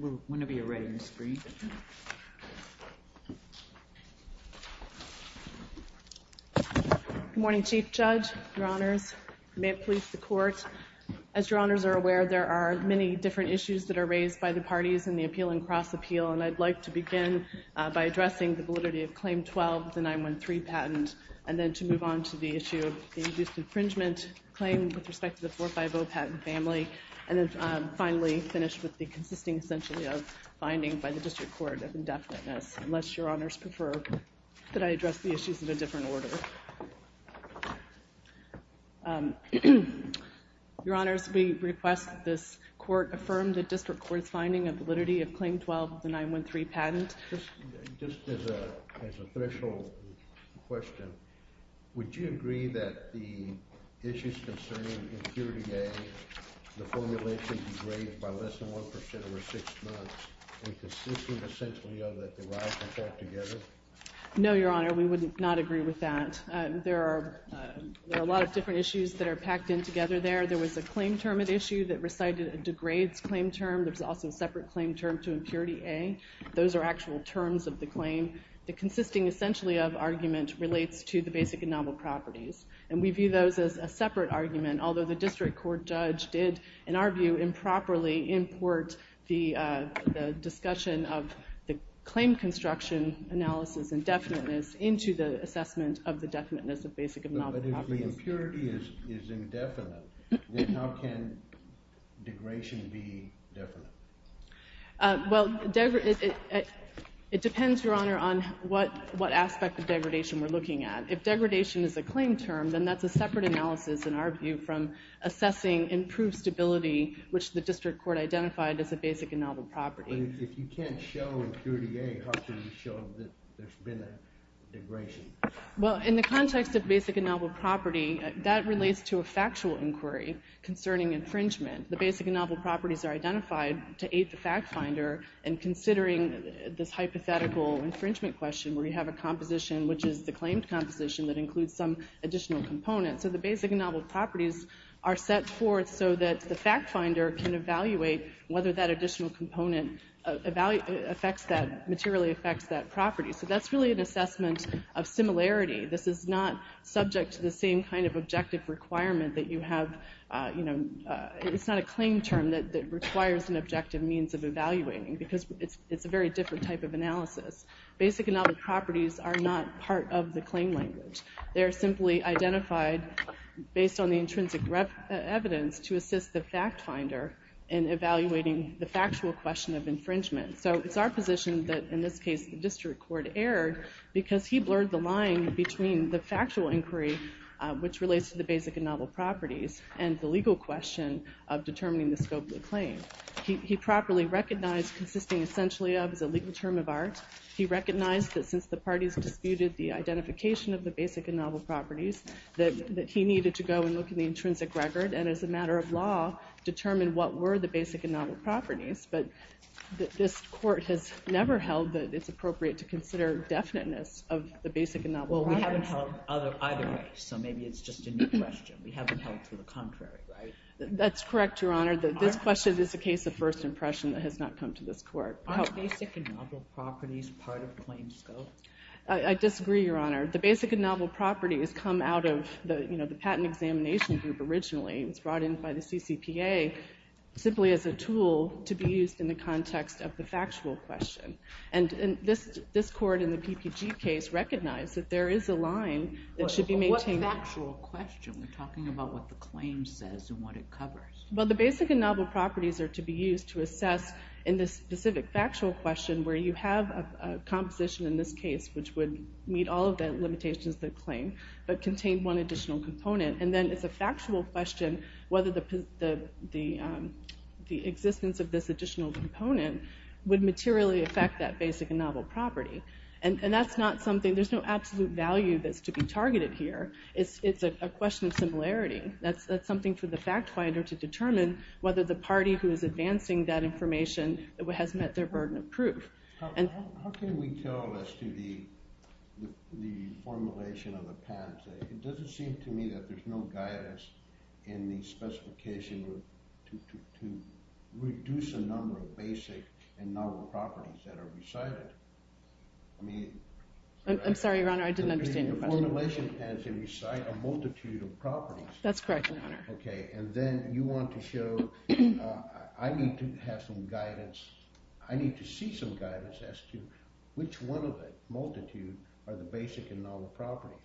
Good morning, Chief Judge, Your Honours, Police, the Court. As Your Honours are aware, there are many different issues that are raised by the parties in the Appeal and Cross-Appeal, and I'd like to begin by addressing the validity of Claim 12, the 913 patent, and then to move on to the issue of the induced infringement claim with respect to the 450 patent family, and then finally finish with the consisting, essentially, of finding by the District Court of indefiniteness, unless Your Honours prefer that I address the issues of a different order. Your Honours, we request that this Court affirm the District Court's finding of validity of the 450 patent family. Thank you, Your Honours, and I'd like to move on to Claim 13, which is a threshold question. Would you agree that the issues concerning impurity A, the formulation degrades by less than 1% over six months, and consisting, essentially, of that they rise and fall together? No, Your Honour, we would not agree with that. There are a lot of different issues that are packed in together there. There was a claim term at issue that recited a degrades claim term. There's also a separate claim term to impurity A. Those are actual terms of the claim. The consisting, essentially, of argument relates to the basic and novel properties, and we view those as a separate argument, although the District Court judge did, in our view, improperly import the discussion of the claim construction analysis indefiniteness into the assessment of the definiteness of basic and novel properties. But if the impurity is indefinite, then how can degradation be definite? Well, it depends, Your Honour, on what aspect of degradation we're looking at. If degradation is a claim term, then that's a separate analysis, in our view, from assessing improved stability, which the District Court identified as a basic and novel property. But if you can't show impurity A, how can you show that there's been a degradation? Well, in the context of basic and novel property, that relates to a factual inquiry concerning infringement. The basic and novel properties are identified to aid the factfinder in considering this hypothetical infringement question, where you have a composition which is the claimed composition that includes some additional component. So the basic and novel properties are set forth so that the factfinder can evaluate whether that additional component materially affects that property. So that's really an assessment of similarity. This is not subject to the same kind of objective requirement that you have, you know, it's not a claim term that requires an objective means of evaluating, because it's a very different type of analysis. Basic and novel properties are not part of the claim language. They're simply identified based on the intrinsic evidence to assist the factfinder in evaluating the factual question of infringement. So it's our position that, in this case, the District Court erred because he blurred the line between the factual inquiry, which relates to the basic and novel properties, and the legal question of determining the scope of the claim. He properly recognized consisting essentially of is a legal term of art. He recognized that since the parties disputed the identification of the basic and novel properties, that he needed to go and look at the intrinsic record, and as a matter of law, determine what were the basic and novel properties. This Court has never held that it's appropriate to consider definiteness of the basic and novel properties. Well, we haven't held either way, so maybe it's just a new question. We haven't held to the contrary, right? That's correct, Your Honor. This question is a case of first impression that has not come to this Court. Aren't basic and novel properties part of the claim scope? I disagree, Your Honor. The basic and novel properties come out of the patent examination group originally. It was brought in by the CCPA simply as a context of the factual question. This Court, in the PPG case, recognized that there is a line that should be maintained. What factual question? We're talking about what the claim says and what it covers. Well, the basic and novel properties are to be used to assess in the specific factual question where you have a composition in this case which would meet all of the limitations of the claim, but contain one additional component, and the existence of this additional component would materially affect that basic and novel property. There's no absolute value that's to be targeted here. It's a question of similarity. That's something for the fact finder to determine whether the party who is advancing that information has met their burden of proof. How can we tell as to the formulation of a patent? It would be a justification to reduce the number of basic and novel properties that are recited. I'm sorry, Your Honor, I didn't understand your question. The formulation has a multitude of properties. That's correct, Your Honor. Okay, and then you want to show, I need to have some guidance, I need to see some guidance as to which one of the multitudes are the basic and novel properties.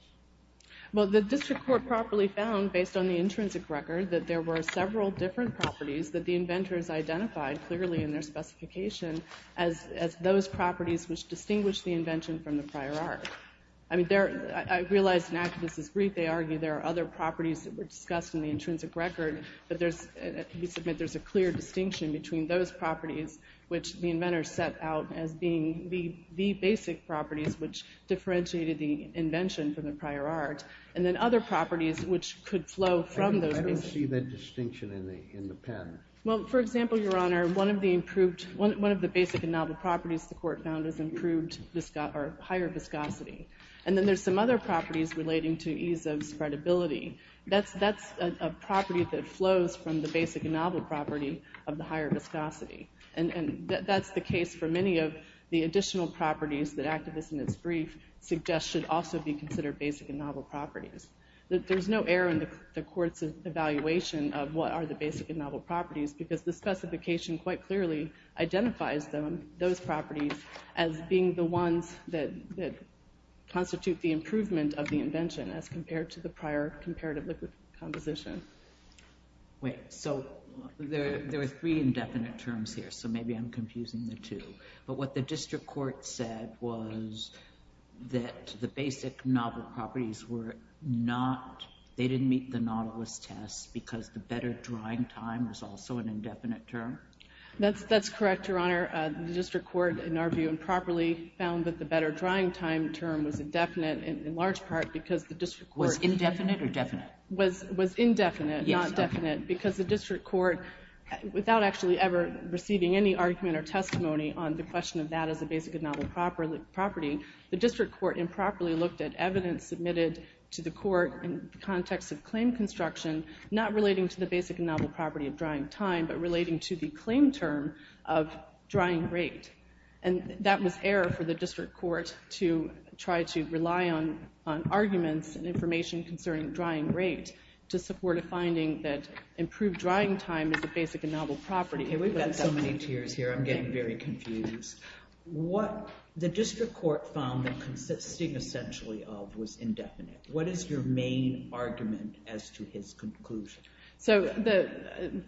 Well, the District Court properly found, based on the intrinsic record, that there were several different properties that the inventors identified clearly in their specification as those properties which distinguished the invention from the prior art. I realize in Activist's brief they argue there are other properties that were discussed in the intrinsic record, but we submit there's a clear distinction between those properties which the inventors set out as being the basic properties which differentiated the invention from the prior art, and then other properties which could flow from those basic properties. I don't see that distinction in the patent. Well, for example, Your Honor, one of the basic and novel properties the Court found is improved or higher viscosity. And then there's some other properties relating to ease of spreadability. That's a property that flows from the basic and novel property of the higher viscosity. And that's the case for many of the additional properties that Activist, in its brief, suggests should also be considered basic and novel properties. There's no error in the Court's evaluation of what are the basic and novel properties, because the specification quite clearly identifies those properties as being the ones that constitute the improvement of the invention as compared to the prior comparative liquid composition. Wait, so there are three indefinite terms here, so maybe I'm confusing the two. But what the District Court said was that the basic novel properties were not, they didn't meet the novelist test because the better drying time was also an indefinite term? That's correct, Your Honor. The District Court, in our view, improperly found that the better drying time term was indefinite in large part because the District Court... Was indefinite or definite? Was indefinite, not definite, because the District Court, without actually ever receiving any argument or testimony on the question of that as a basic and novel property, the District Court improperly looked at evidence submitted to the Court in the context of claim construction, not relating to the basic and novel property of drying time, but relating to the claim term of drying rate. And that was error for the District Court to try to rely on arguments and information concerning drying rate to support a finding that improved drying time is a basic and novel property. Okay, we've got so many tiers here, I'm getting very confused. The District Court found that consisting essentially of was indefinite. What is your main argument as to his conclusion? So,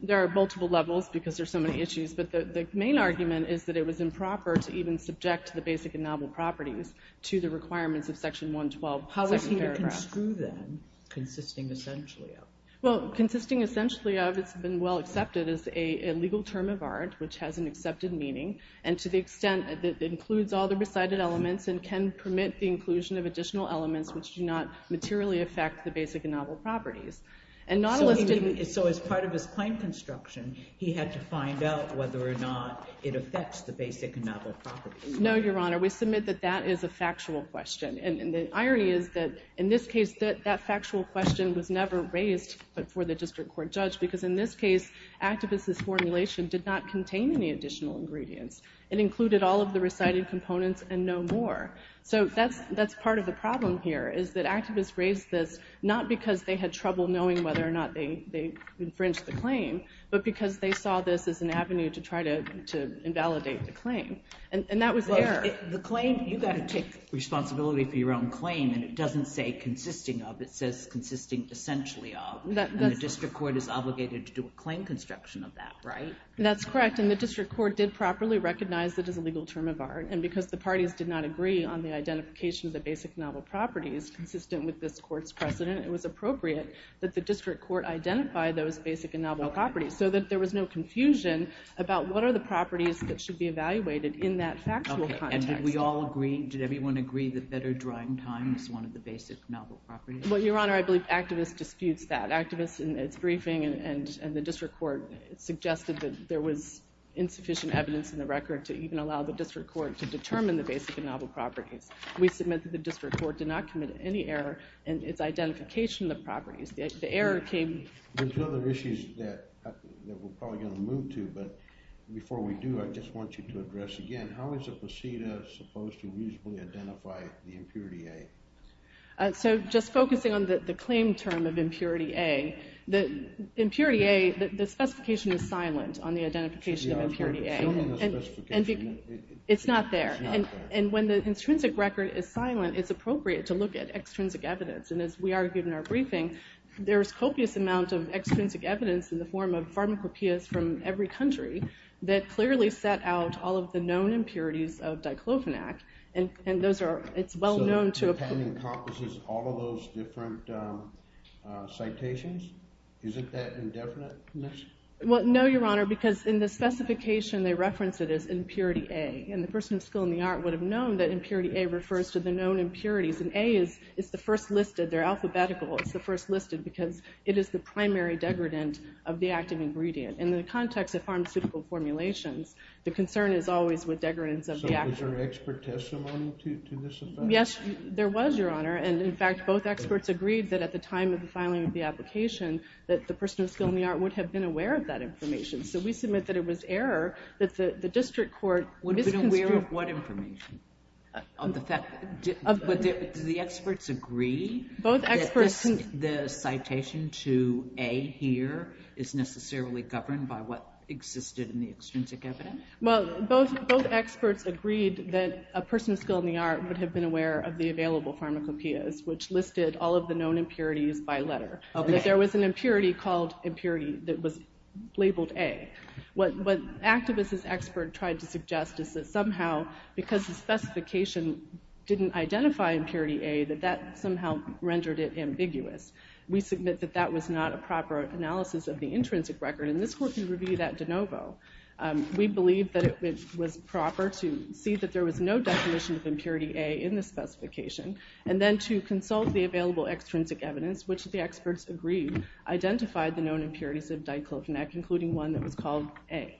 there are multiple levels because there are so many issues, but the main argument is that it was improper to even subject the basic and novel properties to the requirements of Section 112. How was he to construe them, consisting essentially of? Well, consisting essentially of has been well accepted as a legal term of art, which has an accepted meaning, and to the extent that it includes all the recited elements and can permit the inclusion of additional elements which do not materially affect the basic and novel properties. So as part of his claim construction, he had to find out whether or not it affects the factual question. And the irony is that in this case, that factual question was never raised before the District Court judge because in this case, activist's formulation did not contain any additional ingredients. It included all of the recited components and no more. So, that's part of the problem here is that activists raised this not because they had trouble knowing whether or not they infringed the claim, but because they saw this as an responsibility for your own claim, and it doesn't say consisting of, it says consisting essentially of, and the District Court is obligated to do a claim construction of that, right? That's correct, and the District Court did properly recognize it as a legal term of art, and because the parties did not agree on the identification of the basic and novel properties consistent with this court's precedent, it was appropriate that the District Court identify those basic and novel properties so that there was no confusion about what are the properties that should be evaluated in that factual context. Okay, and did we all agree, did everyone agree that better drying time is one of the basic novel properties? Well, Your Honor, I believe activists disputes that. Activists in its briefing and the District Court suggested that there was insufficient evidence in the record to even allow the District Court to determine the basic and novel properties. We submit that the District Court did not commit any error in its identification of the properties. The error came... There's other issues that we're probably going to move to, but before we do, I just want you to address again, how is a procedure supposed to reasonably identify the impurity A? So just focusing on the claim term of impurity A, the impurity A, the specification is silent on the identification of impurity A. It's not there, and when the intrinsic record is silent, it's appropriate to look at extrinsic evidence in the form of pharmacopoeias from every country that clearly set out all of the known impurities of diclofenac, and those are, it's well known to... So the patent encompasses all of those different citations? Isn't that indefinite? Well, no, Your Honor, because in the specification, they reference it as impurity A, and the person with skill in the art would have known that impurity A refers to the known impurities, and A is the first listed. They're alphabetical. It's the first listed because it is the primary degradant of the active ingredient. In the context of pharmaceutical formulations, the concern is always with degradants of the active... So was there expert testimony to this effect? Yes, there was, Your Honor, and in fact, both experts agreed that at the time of the filing of the application, that the person with skill in the art would have been aware of that information. So we submit that it was error, that the district court... Aware of what information? Do the experts agree that the citation to A here is necessarily governed by what existed in the extrinsic evidence? Well, both experts agreed that a person with skill in the art would have been aware of the available pharmacopoeias, which listed all of the known impurities by letter, that there was an impurity called impurity that was labeled A. What activists as experts tried to suggest is that somehow, because the specification didn't identify impurity A, that that somehow rendered it ambiguous. We submit that that was not a proper analysis of the intrinsic record, and this court can review that de novo. We believe that it was proper to see that there was no definition of impurity A in the specification, and then to consult the available extrinsic evidence, which the experts agreed identified the known impurities of diclofenac, including one that was called A.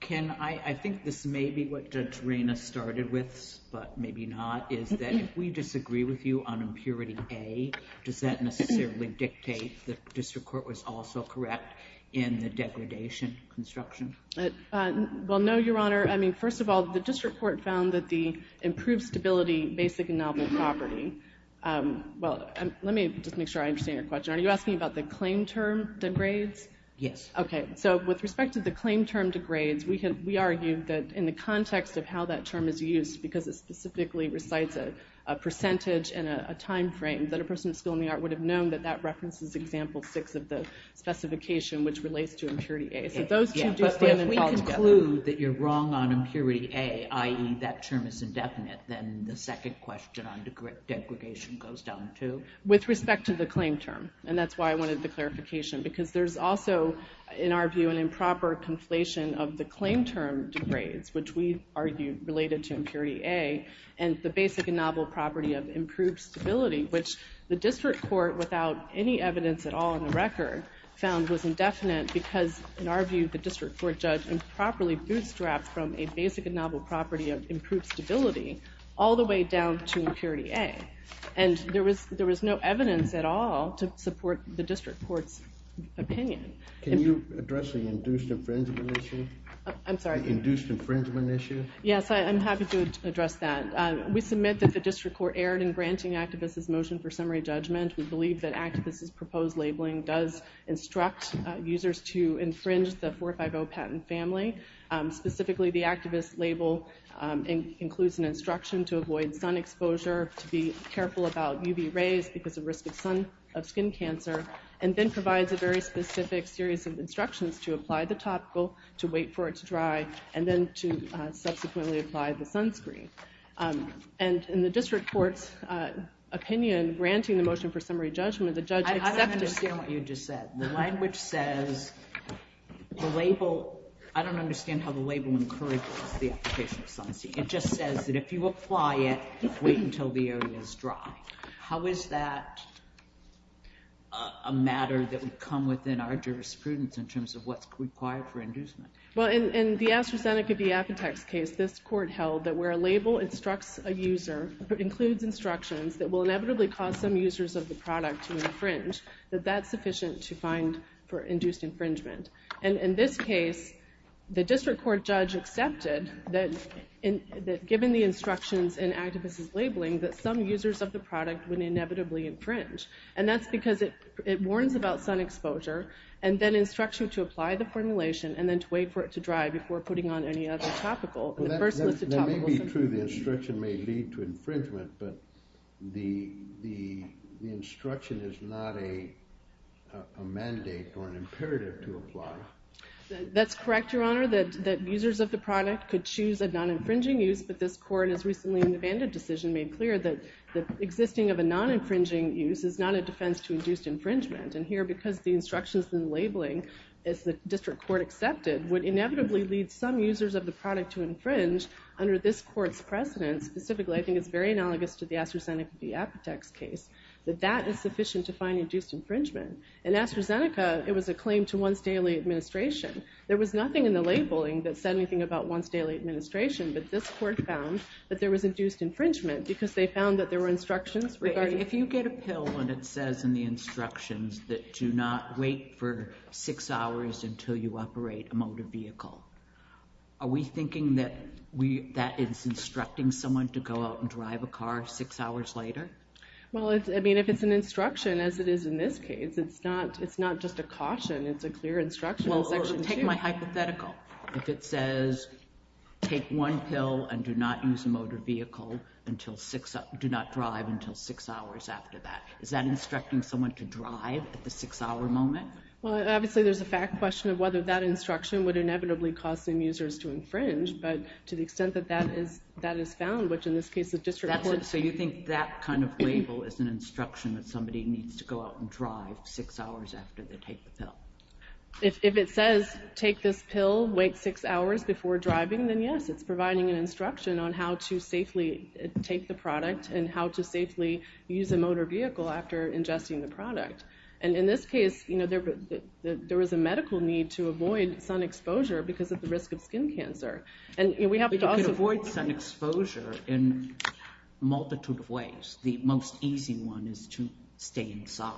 Ken, I think this may be what Judge Reina started with, but maybe not, is that if we disagree with you on impurity A, does that necessarily dictate that the district court was also correct in the degradation construction? Well, no, Your Honor. I mean, first of all, the district court found that the improved stability basic and novel property... Well, let me just make sure I understand your question. Are you asking about the claim term degrades? Yes. Okay, so with respect to the claim term degrades, we argue that in the context of how that term is used, because it specifically recites a percentage and a time frame, that a person with a skill in the art would have known that that references example six of the specification, which relates to impurity A. So those two do stand and fall together. So if we conclude that you're wrong on impurity A, i.e., that term is indefinite, then the second question on degradation goes down, too? With respect to the claim term, and that's why I wanted the clarification, because there's also, in our view, an improper conflation of the claim term degrades, which we argue related to impurity A, and the basic and novel property of improved stability, which the district court, without any evidence at all in the record, found was indefinite because, in our view, the district court judge improperly bootstrapped from a basic and novel property of improved stability all the way down to impurity A. And there was no evidence at all to support the district court's opinion. Can you address the induced infringement issue? I'm sorry? The induced infringement issue? Yes, I'm happy to address that. We submit that the district court erred in granting activists' motion for summary judgment. We believe that activists' proposed labeling does instruct users to infringe the 450 patent family. Specifically, the activist label includes an instruction to avoid sun exposure, to be careful about UV rays because of risk of skin cancer, and then provides a very specific series of instructions to apply the topical, to wait for it to dry, and then to subsequently apply the sunscreen. And in the district court's opinion, granting the motion for summary judgment, the judge accepted— I don't understand what you just said. The language says the label—I don't understand how the label encourages the application of sunscreen. It just says that if you apply it, wait until the area is dry. How is that a matter that would come within our jurisprudence in terms of what's required for inducement? Well, in the AstraZeneca v. Apotex case, this court held that where a label instructs a user, includes instructions that will inevitably cause some users of the product to infringe, that that's sufficient to find for induced infringement. And in this case, the district court judge accepted that given the instructions in activists' labeling, that some users of the product would inevitably infringe. And that's because it warns about sun exposure and then instructs you to apply the formulation and then to wait for it to dry before putting on any other topical. That may be true, the instruction may lead to infringement, but the instruction is not a mandate or an imperative to apply. That's correct, Your Honor, that users of the product could choose a non-infringing use, but this court has recently in the Bandit decision made clear that the existing of a non-infringing use is not a defense to induced infringement. And here, because the instructions in the labeling, as the district court accepted, would inevitably lead some users of the product to infringe under this court's precedence, specifically I think it's very analogous to the AstraZeneca v. Apotex case, that that is sufficient to find induced infringement. In AstraZeneca, it was a claim to one's daily administration. There was nothing in the labeling that said anything about one's daily administration, but this court found that there was induced infringement because they found that there were instructions regarding... that do not wait for six hours until you operate a motor vehicle. Are we thinking that that is instructing someone to go out and drive a car six hours later? Well, I mean, if it's an instruction as it is in this case, it's not just a caution, it's a clear instruction in Section 2. Well, take my hypothetical. If it says take one pill and do not use a motor vehicle until six... do not drive until six hours after that, is that instructing someone to drive at the six-hour moment? Well, obviously there's a fact question of whether that instruction would inevitably cause some users to infringe, but to the extent that that is found, which in this case the district court... So you think that kind of label is an instruction that somebody needs to go out and drive six hours after they take the pill? If it says take this pill, wait six hours before driving, then yes, it's providing an instruction on how to safely take the product and how to safely use a motor vehicle after ingesting the product. And in this case, there was a medical need to avoid sun exposure because of the risk of skin cancer. You can avoid sun exposure in a multitude of ways. The most easy one is to stay inside.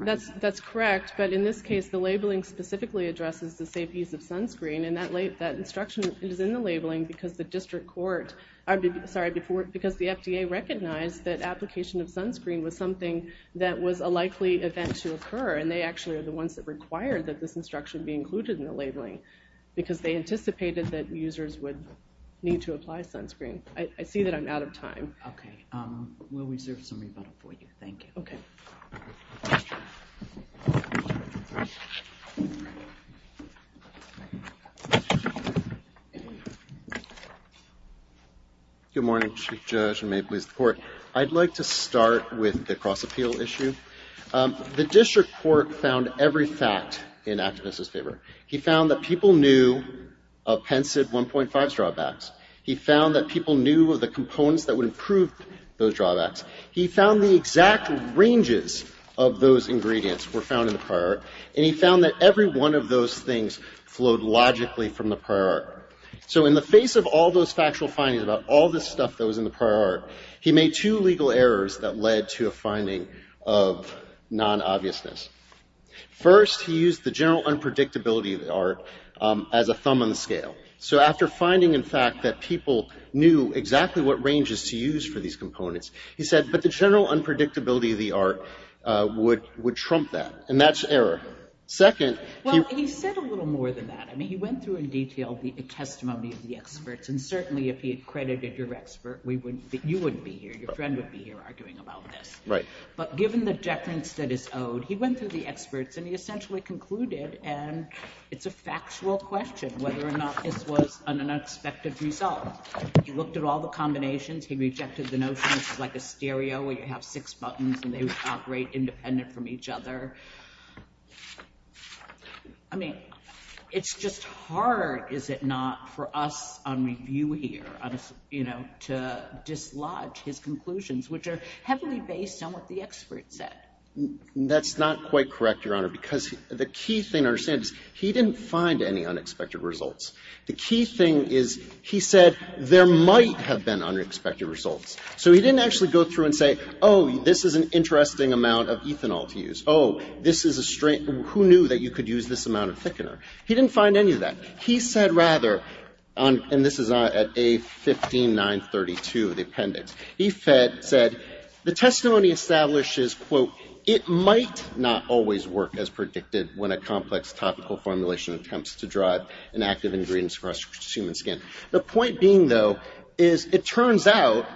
That's correct, but in this case, the labeling specifically addresses the safe use of sunscreen, and that instruction is in the labeling because the district court... recognized that application of sunscreen was something that was a likely event to occur, and they actually are the ones that required that this instruction be included in the labeling because they anticipated that users would need to apply sunscreen. I see that I'm out of time. Okay. We'll reserve some rebuttal for you. Thank you. Okay. Thank you. Good morning, Chief Judge, and may it please the Court. I'd like to start with the cross-appeal issue. The district court found every fact in activists' favor. He found that people knew of PenCid 1.5's drawbacks. He found that people knew of the components that would improve those drawbacks. He found the exact ranges of those ingredients were found in the prior art, and he found that every one of those things flowed logically from the prior art. So in the face of all those factual findings about all this stuff that was in the prior art, he made two legal errors that led to a finding of non-obviousness. First, he used the general unpredictability of the art as a thumb on the scale. So after finding, in fact, that people knew exactly what ranges to use for these components, he said, but the general unpredictability of the art would trump that. And that's error. Second, he... Well, he said a little more than that. I mean, he went through in detail the testimony of the experts, and certainly if he had credited your expert, we wouldn't be — you wouldn't be here. Your friend wouldn't be here arguing about this. Right. But given the deference that is owed, he went through the experts, and he essentially concluded, and it's a factual question, whether or not this was an unexpected result. He looked at all the combinations. He rejected the notion it's like a stereo where you have six buttons and they operate independent from each other. I mean, it's just hard, is it not, for us on review here, you know, to dislodge his conclusions, which are heavily based on what the expert said. That's not quite correct, Your Honor, because the key thing to understand is he didn't find any unexpected results. The key thing is he said there might have been unexpected results. So he didn't actually go through and say, oh, this is an interesting amount of ethanol to use. Oh, this is a — who knew that you could use this amount of thickener? He didn't find any of that. He said rather, and this is at A15932, the appendix, he said, the testimony establishes, quote, it might not always work as predicted when a complex topical formulation attempts to drive inactive ingredients across human skin. The point being, though, is it turns out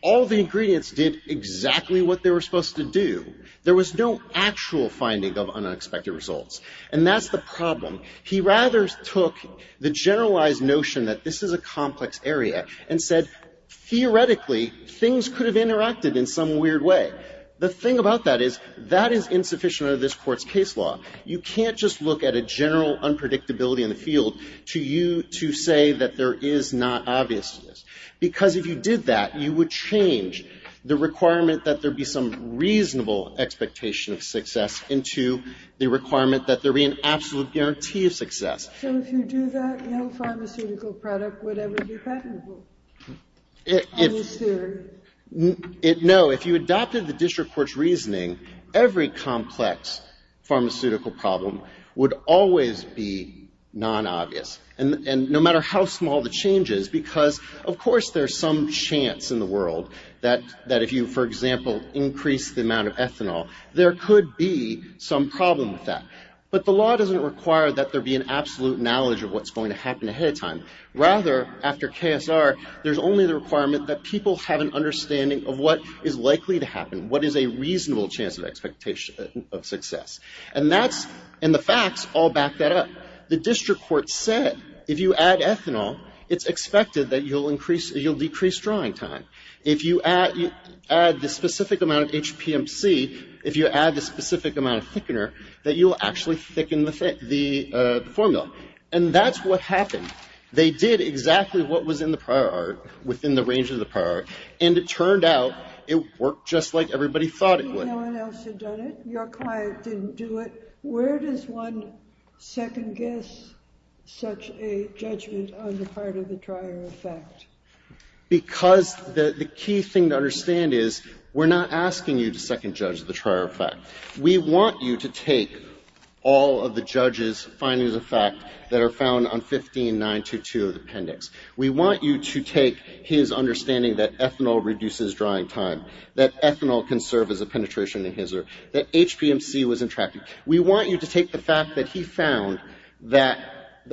all the ingredients did exactly what they were supposed to do. There was no actual finding of unexpected results. And that's the problem. He rather took the generalized notion that this is a complex area and said theoretically things could have interacted in some weird way. The thing about that is that is insufficient under this Court's case law. You can't just look at a general unpredictability in the field to you to say that there is not obviousness. Because if you did that, you would change the requirement that there be some reasonable expectation of success into the requirement that there be an absolute guarantee of success. So if you do that, no pharmaceutical product would ever be patentable? If — On this theory? No. If you adopted the district court's reasoning, every complex pharmaceutical problem would always be non-obvious. And no matter how small the change is, because of course there's some chance in the world that if you, for example, increase the amount of ethanol, there could be some problem with that. But the law doesn't require that there be an absolute knowledge of what's going to happen ahead of time. Rather, after KSR, there's only the requirement that people have an understanding of what is likely to happen, what is a reasonable chance of expectation of success. And that's — and the facts all back that up. The district court said if you add ethanol, it's expected that you'll decrease drying time. If you add the specific amount of HPMC, if you add the specific amount of thickener, that you'll actually thicken the formula. And that's what happened. They did exactly what was in the prior art, within the range of the prior art, and it turned out it worked just like everybody thought it would. If no one else had done it, your client didn't do it, where does one second-guess such a judgment on the part of the trier of fact? Because the key thing to understand is we're not asking you to second-judge the trier of fact. We want you to take all of the judge's findings of fact that are found on 15.922 of the appendix. We want you to take his understanding that ethanol reduces drying time, that ethanol can serve as a penetration adhesive, that HPMC was intractable. We want you to take the fact that he found that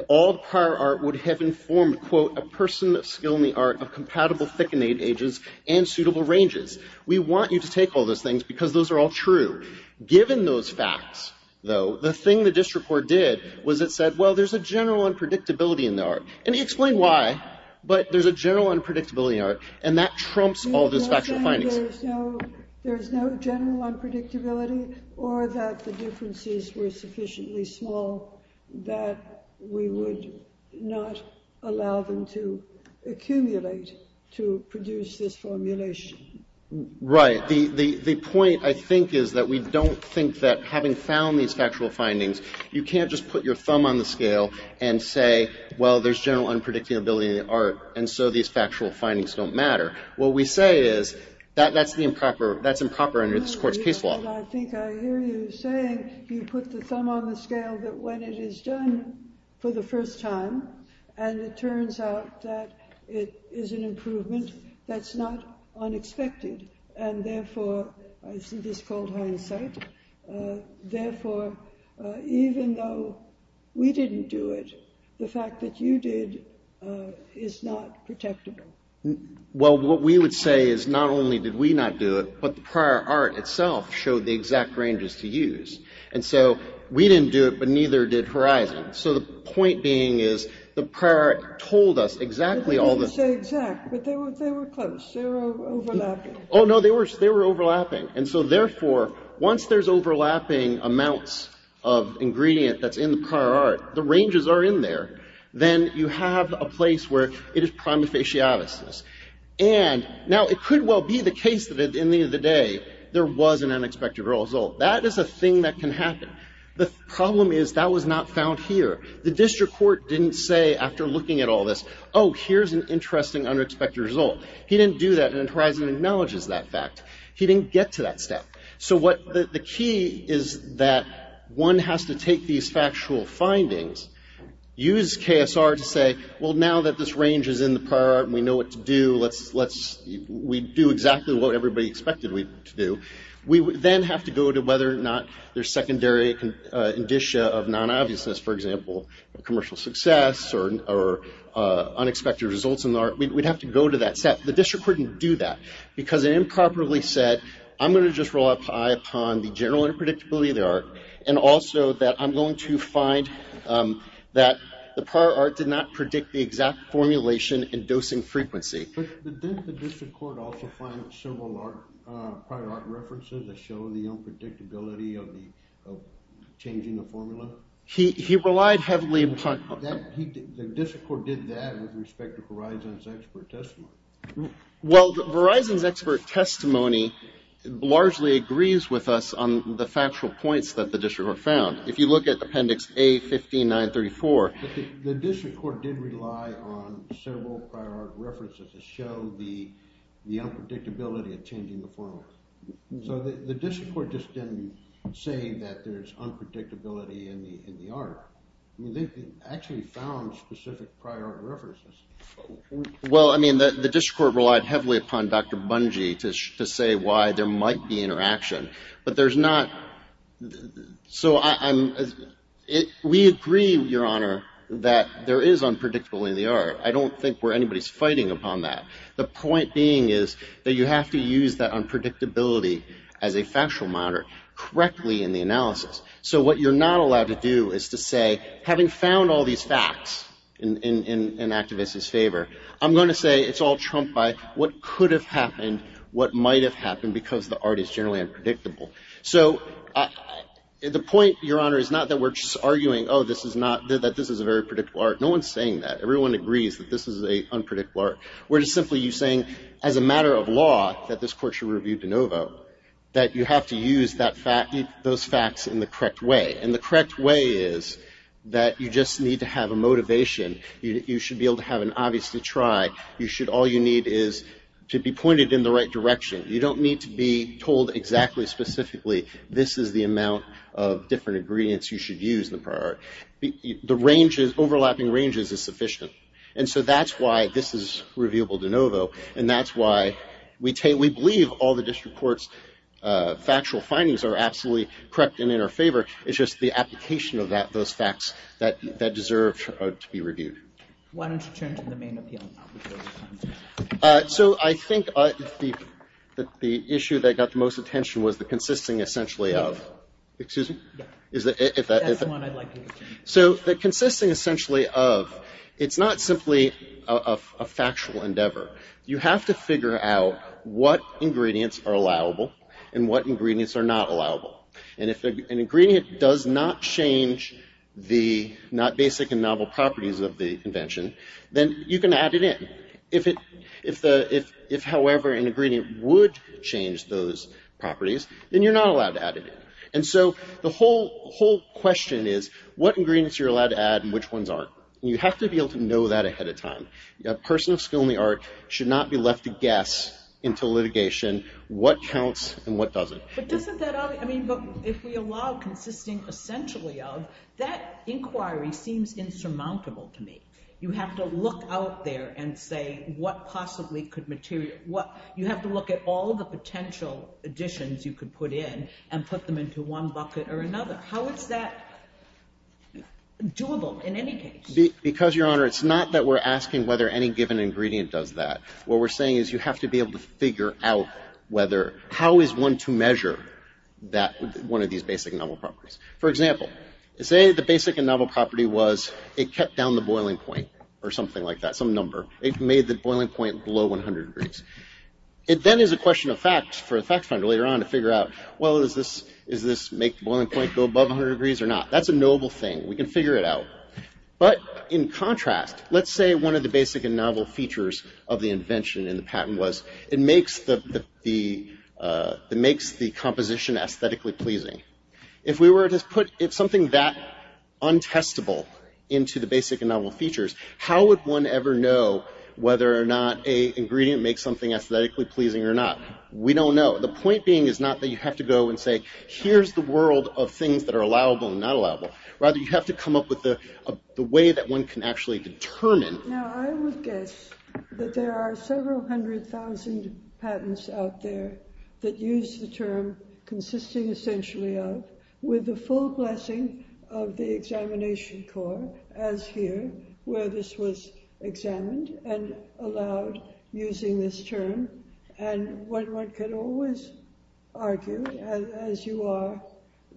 all the prior art would have informed, quote, a person of skill in the art of compatible thickening ages and suitable ranges. We want you to take all those things because those are all true. Given those facts, though, the thing the district court did was it said, well, there's a general unpredictability in the art, and he explained why, but there's a general unpredictability in the art, and that trumps all those factual findings. You're not saying there's no general unpredictability or that the differences were sufficiently small that we would not allow them to accumulate to produce this formulation? Right. The point, I think, is that we don't think that having found these factual findings, you can't just put your thumb on the scale and say, well, there's general unpredictability in the art, and so these factual findings don't matter. What we say is that's improper under this Court's case law. I think I hear you saying you put the thumb on the scale that when it is done for the first time and it turns out that it is an improvement that's not unexpected, and therefore I think it's called hindsight. Therefore, even though we didn't do it, the fact that you did is not protectable. Well, what we would say is not only did we not do it, but the prior art itself showed the exact ranges to use, and so we didn't do it, but neither did Horizon. So the point being is the prior art told us exactly all this. You didn't say exact, but they were close. They were overlapping. Oh, no, they were overlapping. And so, therefore, once there's overlapping amounts of ingredient that's in the prior art, the ranges are in there, then you have a place where it is prima facie obviousness. And now it could well be the case that at the end of the day there was an unexpected result. That is a thing that can happen. The problem is that was not found here. The district court didn't say after looking at all this, oh, here's an interesting unexpected result. He didn't do that, and Horizon acknowledges that fact. He didn't get to that step. So the key is that one has to take these factual findings, use KSR to say, well, now that this range is in the prior art and we know what to do, we do exactly what everybody expected to do, we then have to go to whether or not there's secondary indicia of non-obviousness, for example, commercial success or unexpected results in the art. We'd have to go to that step. The district couldn't do that because it improperly said, I'm going to just rely upon the general unpredictability of the art and also that I'm going to find that the prior art did not predict the exact formulation and dosing frequency. But didn't the district court also find several prior art references that show the unpredictability of changing the formula? He relied heavily upon... The district court did that with respect to Horizon's expert testimony. Well, Horizon's expert testimony largely agrees with us on the factual points that the district court found. If you look at Appendix A-15934... The district court did rely on several prior art references to show the unpredictability of changing the formula. So the district court just didn't say that there's unpredictability in the art. They actually found specific prior art references. Well, I mean, the district court relied heavily upon Dr. Bunge to say why there might be interaction, but there's not... So we agree, Your Honor, that there is unpredictability in the art. I don't think where anybody's fighting upon that. The point being is that you have to use that unpredictability as a factual monitor correctly in the analysis. So what you're not allowed to do is to say, having found all these facts in an activist's favor, I'm going to say it's all trumped by what could have happened, what might have happened, because the art is generally unpredictable. So the point, Your Honor, is not that we're just arguing, oh, this is a very predictable art. No one's saying that. Everyone agrees that this is an unpredictable art. We're just simply saying, as a matter of law, that this court should review de novo, that you have to use those facts in the correct way. And the correct way is that you just need to have a motivation. You should be able to have an obvious to try. All you need is to be pointed in the right direction. You don't need to be told exactly, specifically, this is the amount of different ingredients you should use in the prior. The overlapping ranges is sufficient. And so that's why this is reviewable de novo, and that's why we believe all the district court's factual findings are absolutely correct and in our favor. It's just the application of those facts that deserve to be reviewed. Why don't you turn to the main appeal? So I think the issue that got the most attention was the consisting, essentially, of. Excuse me? That's the one I'd like you to turn to. So the consisting, essentially, of. It's not simply a factual endeavor. You have to figure out what ingredients are allowable and what ingredients are not allowable. And if an ingredient does not change the basic and novel properties of the invention, then you can add it in. If, however, an ingredient would change those properties, then you're not allowed to add it in. And so the whole question is what ingredients you're allowed to add and which ones aren't. And you have to be able to know that ahead of time. A person of skill in the art should not be left to guess until litigation what counts and what doesn't. But if we allow consisting, essentially, of, that inquiry seems insurmountable to me. You have to look out there and say what possibly could materialize. You have to look at all the potential additions you could put in and put them into one bucket or another. How is that doable in any case? Because, Your Honor, it's not that we're asking whether any given ingredient does that. What we're saying is you have to be able to figure out how is one to measure one of these basic and novel properties. For example, say the basic and novel property was it kept down the boiling point or something like that, some number. It made the boiling point below 100 degrees. It then is a question of fact for a fact finder later on to figure out, well, does this make the boiling point go above 100 degrees or not? That's a knowable thing. We can figure it out. But in contrast, let's say one of the basic and novel features of the invention in the patent was it makes the composition aesthetically pleasing. If we were to put something that untestable into the basic and novel features, how would one ever know whether or not an ingredient makes something aesthetically pleasing or not? We don't know. The point being is not that you have to go and say here's the world of things that are allowable and not allowable. Rather, you have to come up with the way that one can actually determine. Now, I would guess that there are several hundred thousand patents out there that use the term consisting essentially of with the full blessing of the examination core as here where this was examined and allowed using this term. One could always argue, as you are,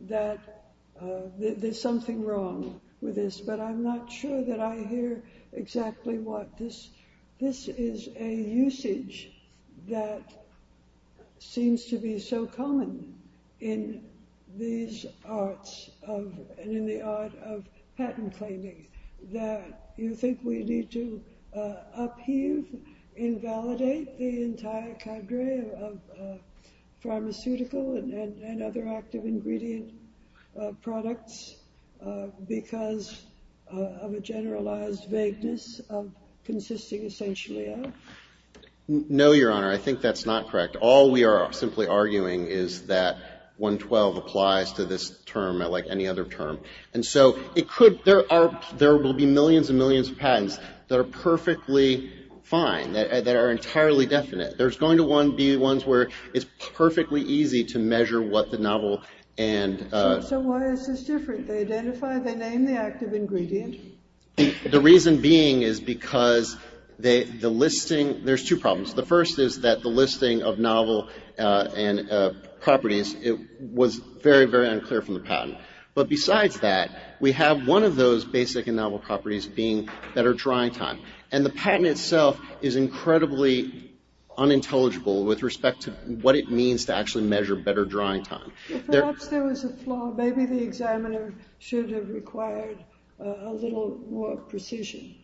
that there's something wrong with this. But I'm not sure that I hear exactly what this is. There is a usage that seems to be so common in these arts and in the art of patent claiming that you think we need to upheave, invalidate the entire cadre of pharmaceutical and other active ingredient products because of a generalized vagueness of consisting essentially of? No, Your Honor. I think that's not correct. All we are simply arguing is that 112 applies to this term like any other term. There will be millions and millions of patents that are perfectly fine, that are entirely definite. There's going to be ones where it's perfectly easy to measure what the novel and... So why is this different? They identify, they name the active ingredient. The reason being is because the listing... There's two problems. The first is that the listing of novel properties was very, very unclear from the patent. But besides that, we have one of those basic and novel properties being better drying time. And the patent itself is incredibly unintelligible with respect to what it means to actually measure better drying time. Perhaps there was a flaw. Maybe the examiner should have required a little more precision.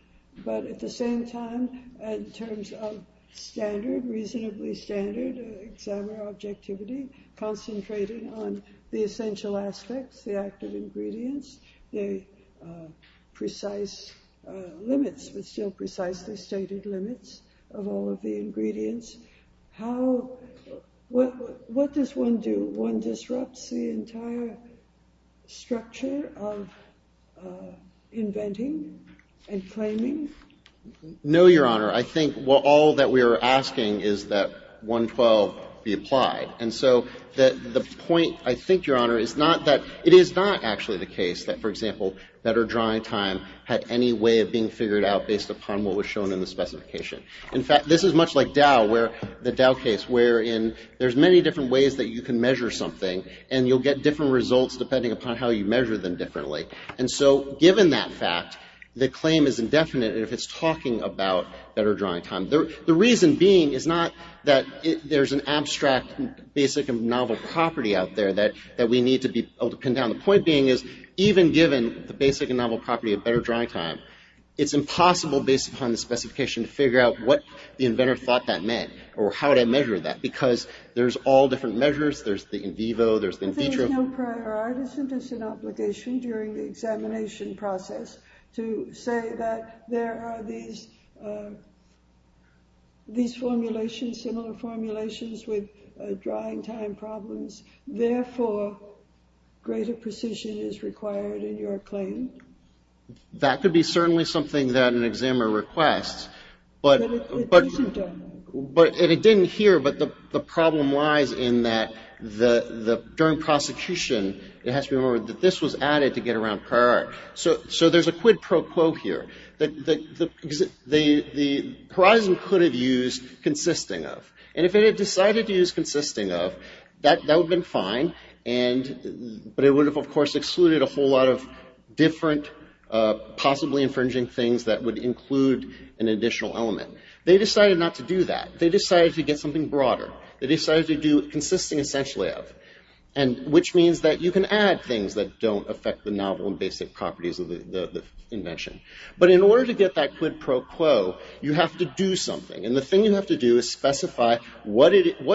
But at the same time, in terms of standard, reasonably standard examiner objectivity, concentrating on the essential aspects, the active ingredients, the precise limits, but still precisely stated limits of all of the ingredients. What does one do? One disrupts the entire structure of inventing and claiming? No, Your Honor. I think all that we are asking is that 112 be applied. And so the point, I think, Your Honor, is not that... It is not actually the case that, for example, better drying time had any way of being figured out based upon what was shown in the specification. In fact, this is much like Dow, the Dow case, wherein there's many different ways that you can measure something. And you'll get different results depending upon how you measure them differently. And so given that fact, the claim is indefinite if it's talking about better drying time. The reason being is not that there's an abstract basic and novel property out there that we need to be able to pin down. The point being is, even given the basic and novel property of better drying time, it's impossible based upon the specification to figure out what the inventor thought that meant or how to measure that. Because there's all different measures. There's the in vivo. There's the in vitro. There's no prior artisan disobligation during the examination process to say that there are these formulations, similar formulations, with drying time problems. Therefore, greater precision is required in your claim. That could be certainly something that an examiner requests. But it isn't done. And it didn't here, but the problem lies in that during prosecution, it has to be remembered that this was added to get around prior art. So there's a quid pro quo here. The horizon could have used consisting of. And if it had decided to use consisting of, that would have been fine. But it would have, of course, excluded a whole lot of different possibly infringing things that would include an additional element. They decided not to do that. They decided to get something broader. They decided to do consisting essentially of, which means that you can add things that don't affect the novel and basic properties of the invention. But in order to get that quid pro quo, you have to do something. And the thing you have to do is specify what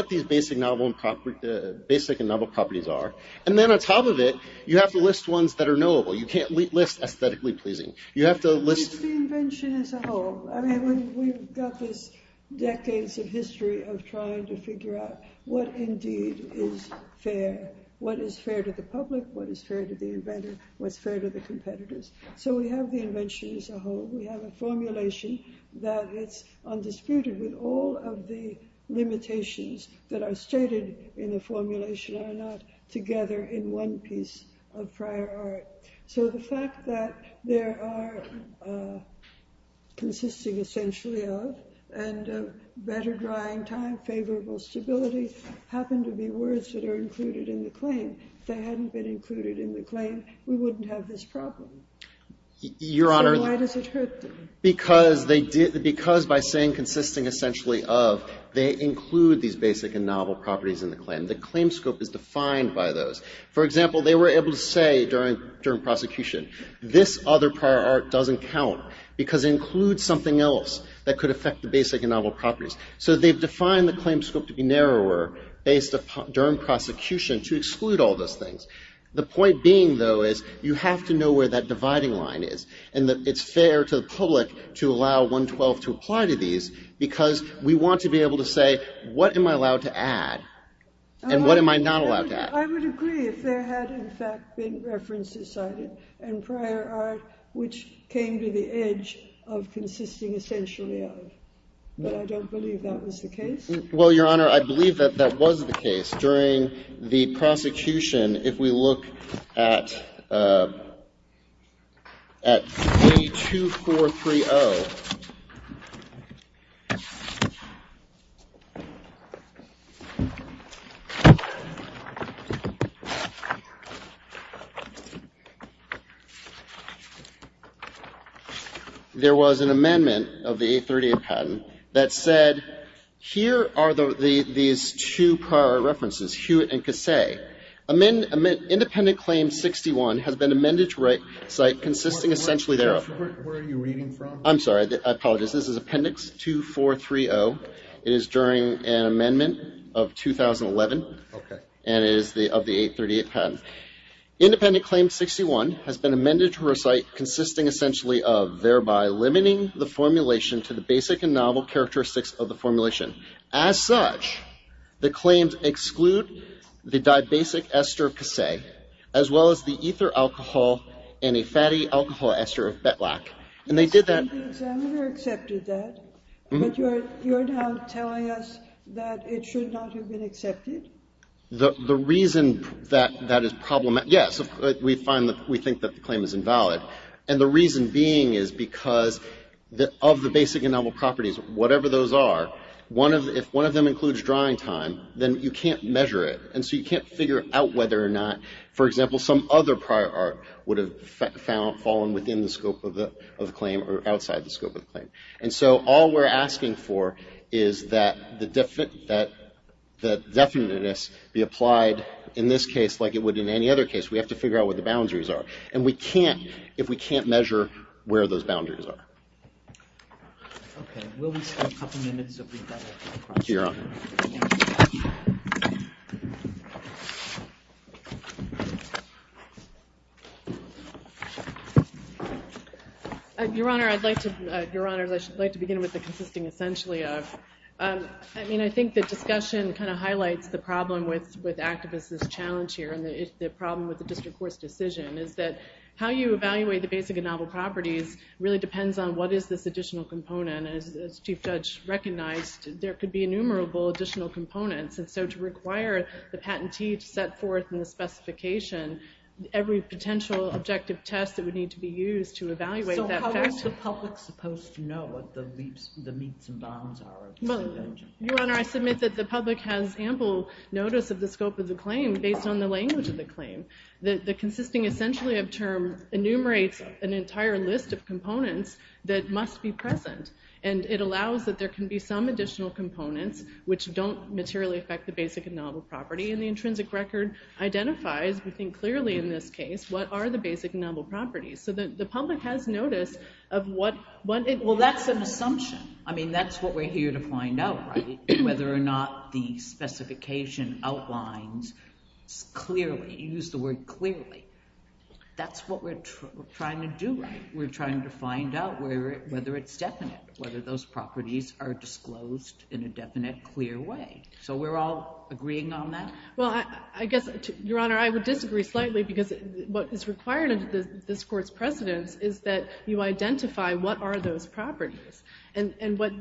these basic and novel properties are. And then on top of it, you have to list ones that are knowable. You can't list aesthetically pleasing. The invention as a whole. I mean, we've got this decades of history of trying to figure out what indeed is fair, what is fair to the public, what is fair to the inventor, what's fair to the competitors. So we have the invention as a whole. We have a formulation that it's undisputed with all of the limitations that are stated in the formulation are not together in one piece of prior art. So the fact that there are consisting essentially of and better drying time, favorable stability, happen to be words that are included in the claim. If they hadn't been included in the claim, we wouldn't have this problem. Your Honor. So why does it hurt them? Because by saying consisting essentially of, they include these basic and novel properties in the claim. The claim scope is defined by those. For example, they were able to say during prosecution, this other prior art doesn't count because it includes something else that could affect the basic and novel properties. So they've defined the claim scope to be narrower based upon during prosecution to exclude all those things. The point being, though, is you have to know where that dividing line is. And it's fair to the public to allow 112 to apply to these because we want to be able to say, what am I allowed to add? And what am I not allowed to add? I would agree if there had, in fact, been references cited and prior art which came to the edge of consisting essentially of. But I don't believe that was the case. Well, Your Honor, I believe that that was the case during the prosecution. If we look at A2430, there was an amendment of the A38 patent that said, here are these two prior art references, Hewitt and Casse. Where are you reading from? I'm sorry. I apologize. This is Appendix 2430. It is during an amendment of 2011. Okay. And it is of the A38 patent. Independent claim 61 has been amended to recite consisting essentially of, thereby limiting the formulation to the basic and novel characteristics of the formulation. As such, the claims exclude the dividing line. The reason that that is problematic, yes, we find that we think that the claim is invalid. And the reason being is because of the basic and novel properties, whatever those are, if one of them includes drawing time, then you can't measure it. And so you can't figure out whether or not, for example, some other prior art would have fallen within the scope of the claim or outside the scope of the claim. And so all we're asking for is that the definiteness be applied in this case like it would in any other case. We have to figure out what the boundaries are. And we can't, if we can't measure where those boundaries are. Okay. Will we have a couple minutes of rebuttal? Your Honor. Your Honor, I'd like to, Your Honor, I'd like to begin with the consisting essentially of. I mean, I think the discussion kind of highlights the problem with activists' challenge here and the problem with the district court's decision is that how you evaluate the basic and novel properties really depends on what is this additional component. And as Chief Judge recognized, there could be innumerable additional components. And so to require the patentee to set forth in the specification every potential objective test that would need to be used to evaluate that fact. So how is the public supposed to know what the meets and bounds are? Your Honor, I submit that the public has ample notice of the scope of the claim based on the language of the claim. The consisting essentially of term enumerates an entire list of components that must be present. And it allows that there can be some additional components which don't materially affect the basic and novel property. And the intrinsic record identifies, we think clearly in this case, what are the basic and novel properties. So the public has notice of what it. Well, that's an assumption. I mean, that's what we're here to find out, right? Whether or not the specification outlines clearly, use the word clearly. That's what we're trying to do, right? We're trying to find out whether it's definite, whether those properties are disclosed in a definite, clear way. So we're all agreeing on that? Well, I guess, Your Honor, I would disagree slightly because what is required of this court's precedence is that you identify what are those properties. And what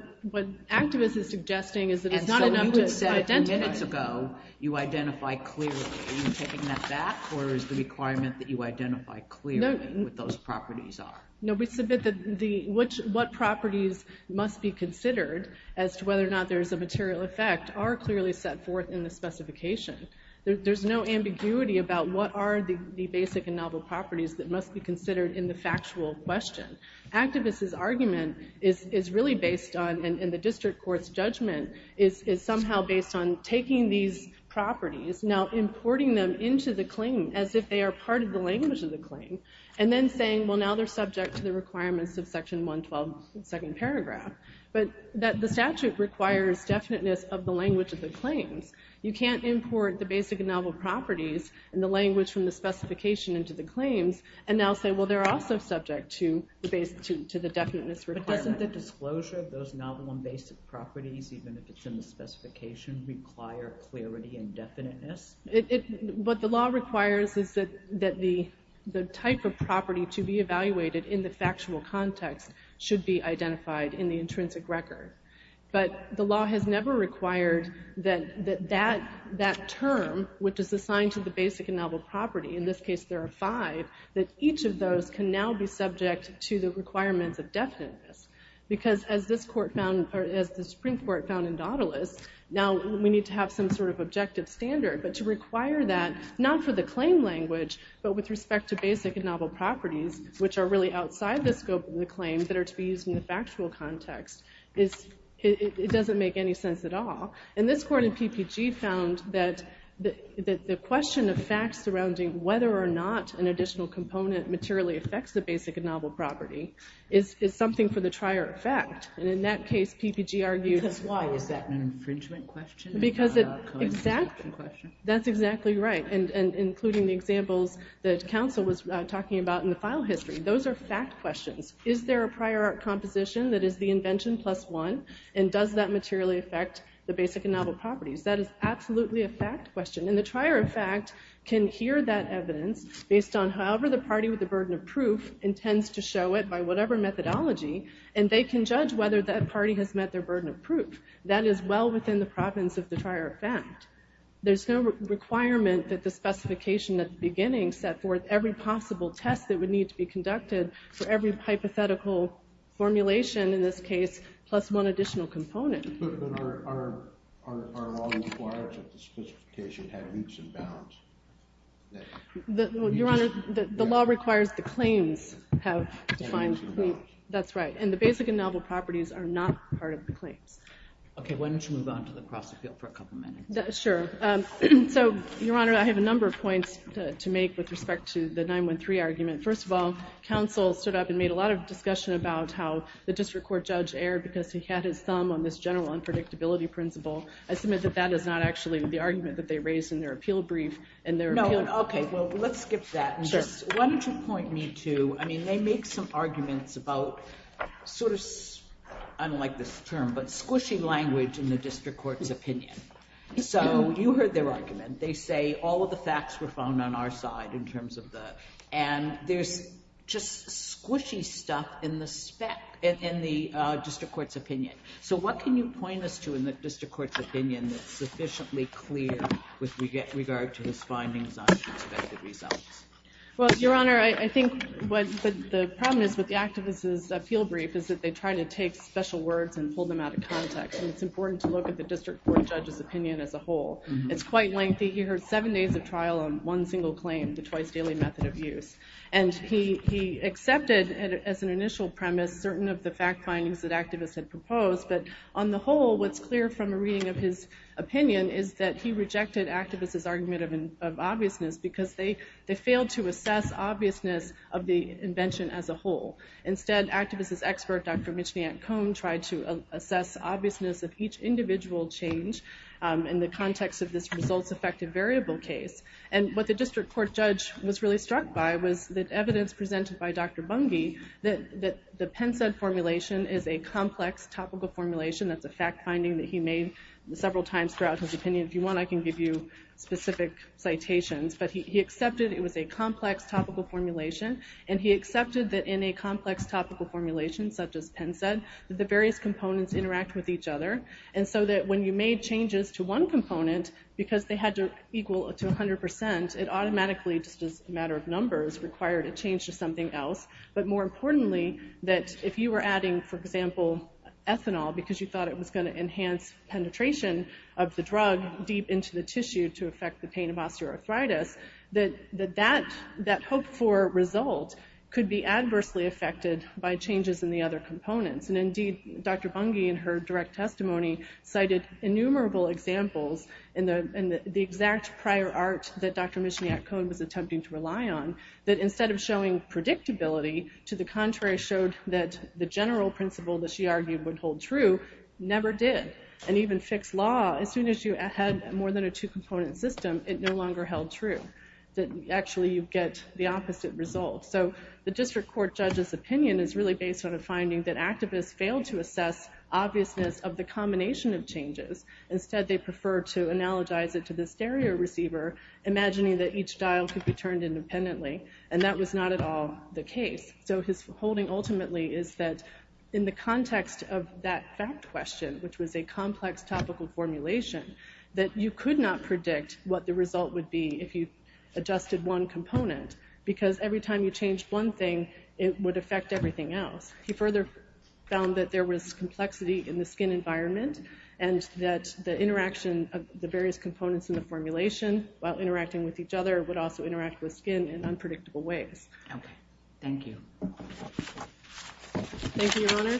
activists are suggesting is that it's not enough to identify. And so you said minutes ago you identify clearly. Are you taking that back, or is the requirement that you identify clearly what those properties are? No, we submit that what properties must be considered as to whether or not there is a material effect are clearly set forth in the specification. There's no ambiguity about what are the basic and novel properties that must be considered in the factual question. Activists' argument is really based on, and the district court's judgment, is somehow based on taking these properties, now importing them into the claim as if they are part of the language of the claim, and then saying, well, now they're subject to the requirements of Section 112, second paragraph. But the statute requires definiteness of the language of the claims. You can't import the basic and novel properties and the language from the specification into the claims and now say, well, they're also subject to the definiteness requirement. But doesn't the disclosure of those novel and basic properties, even if it's in the specification, require clarity and definiteness? What the law requires is that the type of property to be evaluated in the factual context should be identified in the intrinsic record. But the law has never required that that term, which is assigned to the basic and novel property, in this case there are five, that each of those can now be subject to the requirements of definiteness. Because as the Supreme Court found in Daudelus, now we need to have some sort of objective standard. But to require that, not for the claim language, but with respect to basic and novel properties, which are really outside the scope of the claim that are to be used in the factual context, it doesn't make any sense at all. And this court in PPG found that the question of facts surrounding whether or not an additional component materially affects the basic and novel property is something for the trier of fact. And in that case, PPG argued... Because why? Is that an infringement question? Exactly. That's exactly right. And including the examples that counsel was talking about in the file history, those are fact questions. Is there a prior art composition that is the invention plus one? And does that materially affect the basic and novel properties? That is absolutely a fact question. And the trier of fact can hear that evidence based on however the party with the burden of proof intends to show it by whatever methodology, and they can judge whether that party has met their burden of proof. That is well within the province of the trier of fact. There's no requirement that the specification at the beginning set forth every possible test that would need to be conducted for every hypothetical formulation, in this case, plus one additional component. But then our law requires that the specification have loops and bounds. Your Honor, the law requires the claims have defined... Have loops and bounds. That's right. And the basic and novel properties are not part of the claims. Okay, why don't you move on to the cross appeal for a couple minutes. Sure. So, Your Honor, I have a number of points to make with respect to the 9-1-3 argument. First of all, counsel stood up and made a lot of discussion about how the district court judge erred because he had his thumb on this general unpredictability principle. I submit that that is not actually the argument that they raised in their appeal brief. No. Okay. Well, let's skip that. Sure. Why don't you point me to... I mean, they make some arguments about sort of, I don't like this term, but squishy language in the district court's opinion. So, you heard their argument. They say all of the facts were found on our side in terms of the... And there's just squishy stuff in the district court's opinion. So, what can you point us to in the district court's opinion that's sufficiently clear with regard to his findings on expected results? Well, Your Honor, I think what the problem is with the activist's appeal brief is that they try to take special words and pull them out of context. And it's important to look at the district court judge's opinion as a whole. It's quite lengthy. He heard seven days of trial on one single claim, the twice-daily method of use. And he accepted, as an initial premise, certain of the fact findings that activists had proposed. But, on the whole, what's clear from a reading of his opinion is that he rejected activists' argument of obviousness, because they failed to assess obviousness of the invention as a whole. Instead, activist's expert, Dr. Michniak-Cohen, tried to assess obviousness of each individual change in the context of this results-affected variable case. And what the district court judge was really struck by was the evidence presented by Dr. Bungi that the PennSED formulation is a complex topical formulation. That's a fact finding that he made several times throughout his opinion. If you want, I can give you specific citations. But he accepted it was a complex topical formulation, and he accepted that in a complex topical formulation, such as PennSED, the various components interact with each other. And so that when you made changes to one component, because they had to equal to 100%, it automatically, just as a matter of numbers, required a change to something else. But more importantly, that if you were adding, for example, ethanol, because you thought it was going to enhance penetration of the drug deep into the tissue to affect the pain of osteoarthritis, that that hopeful result could be adversely affected by changes in the other components. And indeed, Dr. Bungi, in her direct testimony, cited innumerable examples in the exact prior art that Dr. Michniak-Cohen was attempting to rely on, that instead of showing predictability, to the contrary showed that the general principle that she argued would hold true, never did. And even Fick's law, as soon as you had more than a two-component system, it no longer held true, that actually you get the opposite result. So the district court judge's opinion is really based on a finding that activists failed to assess obviousness of the combination of changes. Instead, they prefer to analogize it to the stereo receiver, imagining that each dial could be turned independently, and that was not at all the case. So his holding ultimately is that in the context of that fact question, which was a complex topical formulation, that you could not predict what the result would be if you adjusted one component, because every time you changed one thing, it would affect everything else. He further found that there was complexity in the skin environment, and that the interaction of the various components in the formulation, while interacting with each other, would also interact with skin in unpredictable ways. Okay. Thank you. Thank you, Your Honor.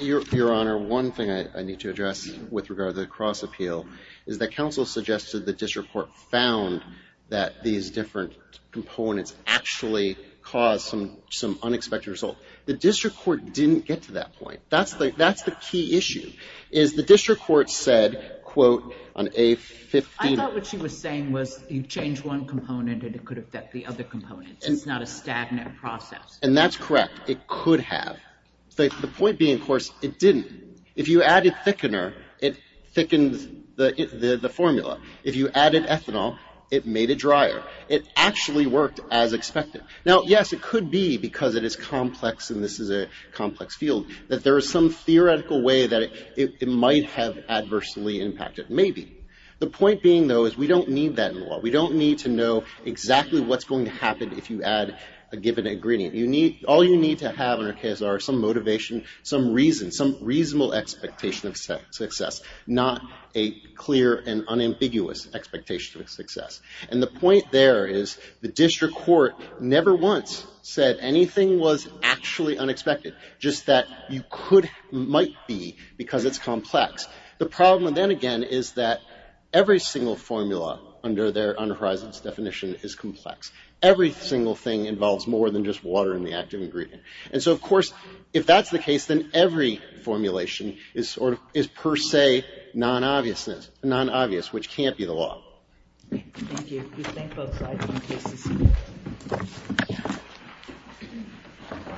Your Honor, one thing I need to address with regard to the cross-appeal is that counsel suggested the district court found that these different components actually caused some unexpected result. The district court didn't get to that point. That's the key issue, is the district court said, quote, on a 15- I thought what she was saying was you change one component and it could affect the other component. It's not a stagnant process. And that's correct. It could have. The point being, of course, it didn't. If you added thickener, it thickens the formula. If you added ethanol, it made it drier. It actually worked as expected. Now, yes, it could be, because it is complex and this is a complex field, that there is some theoretical way that it might have adversely impacted. Maybe. The point being, though, is we don't need that in law. We don't need to know exactly what's going to happen if you add a given ingredient. All you need to have in our case are some motivation, some reason, some reasonable expectation of success, not a clear and unambiguous expectation of success. And the point there is the district court never once said anything was actually unexpected, just that you could, might be, because it's complex. The problem then, again, is that every single formula under Horizon's definition is complex. Every single thing involves more than just water in the active ingredient. And so, of course, if that's the case, then every formulation is per se non-obvious, which can't be the law. Thank you.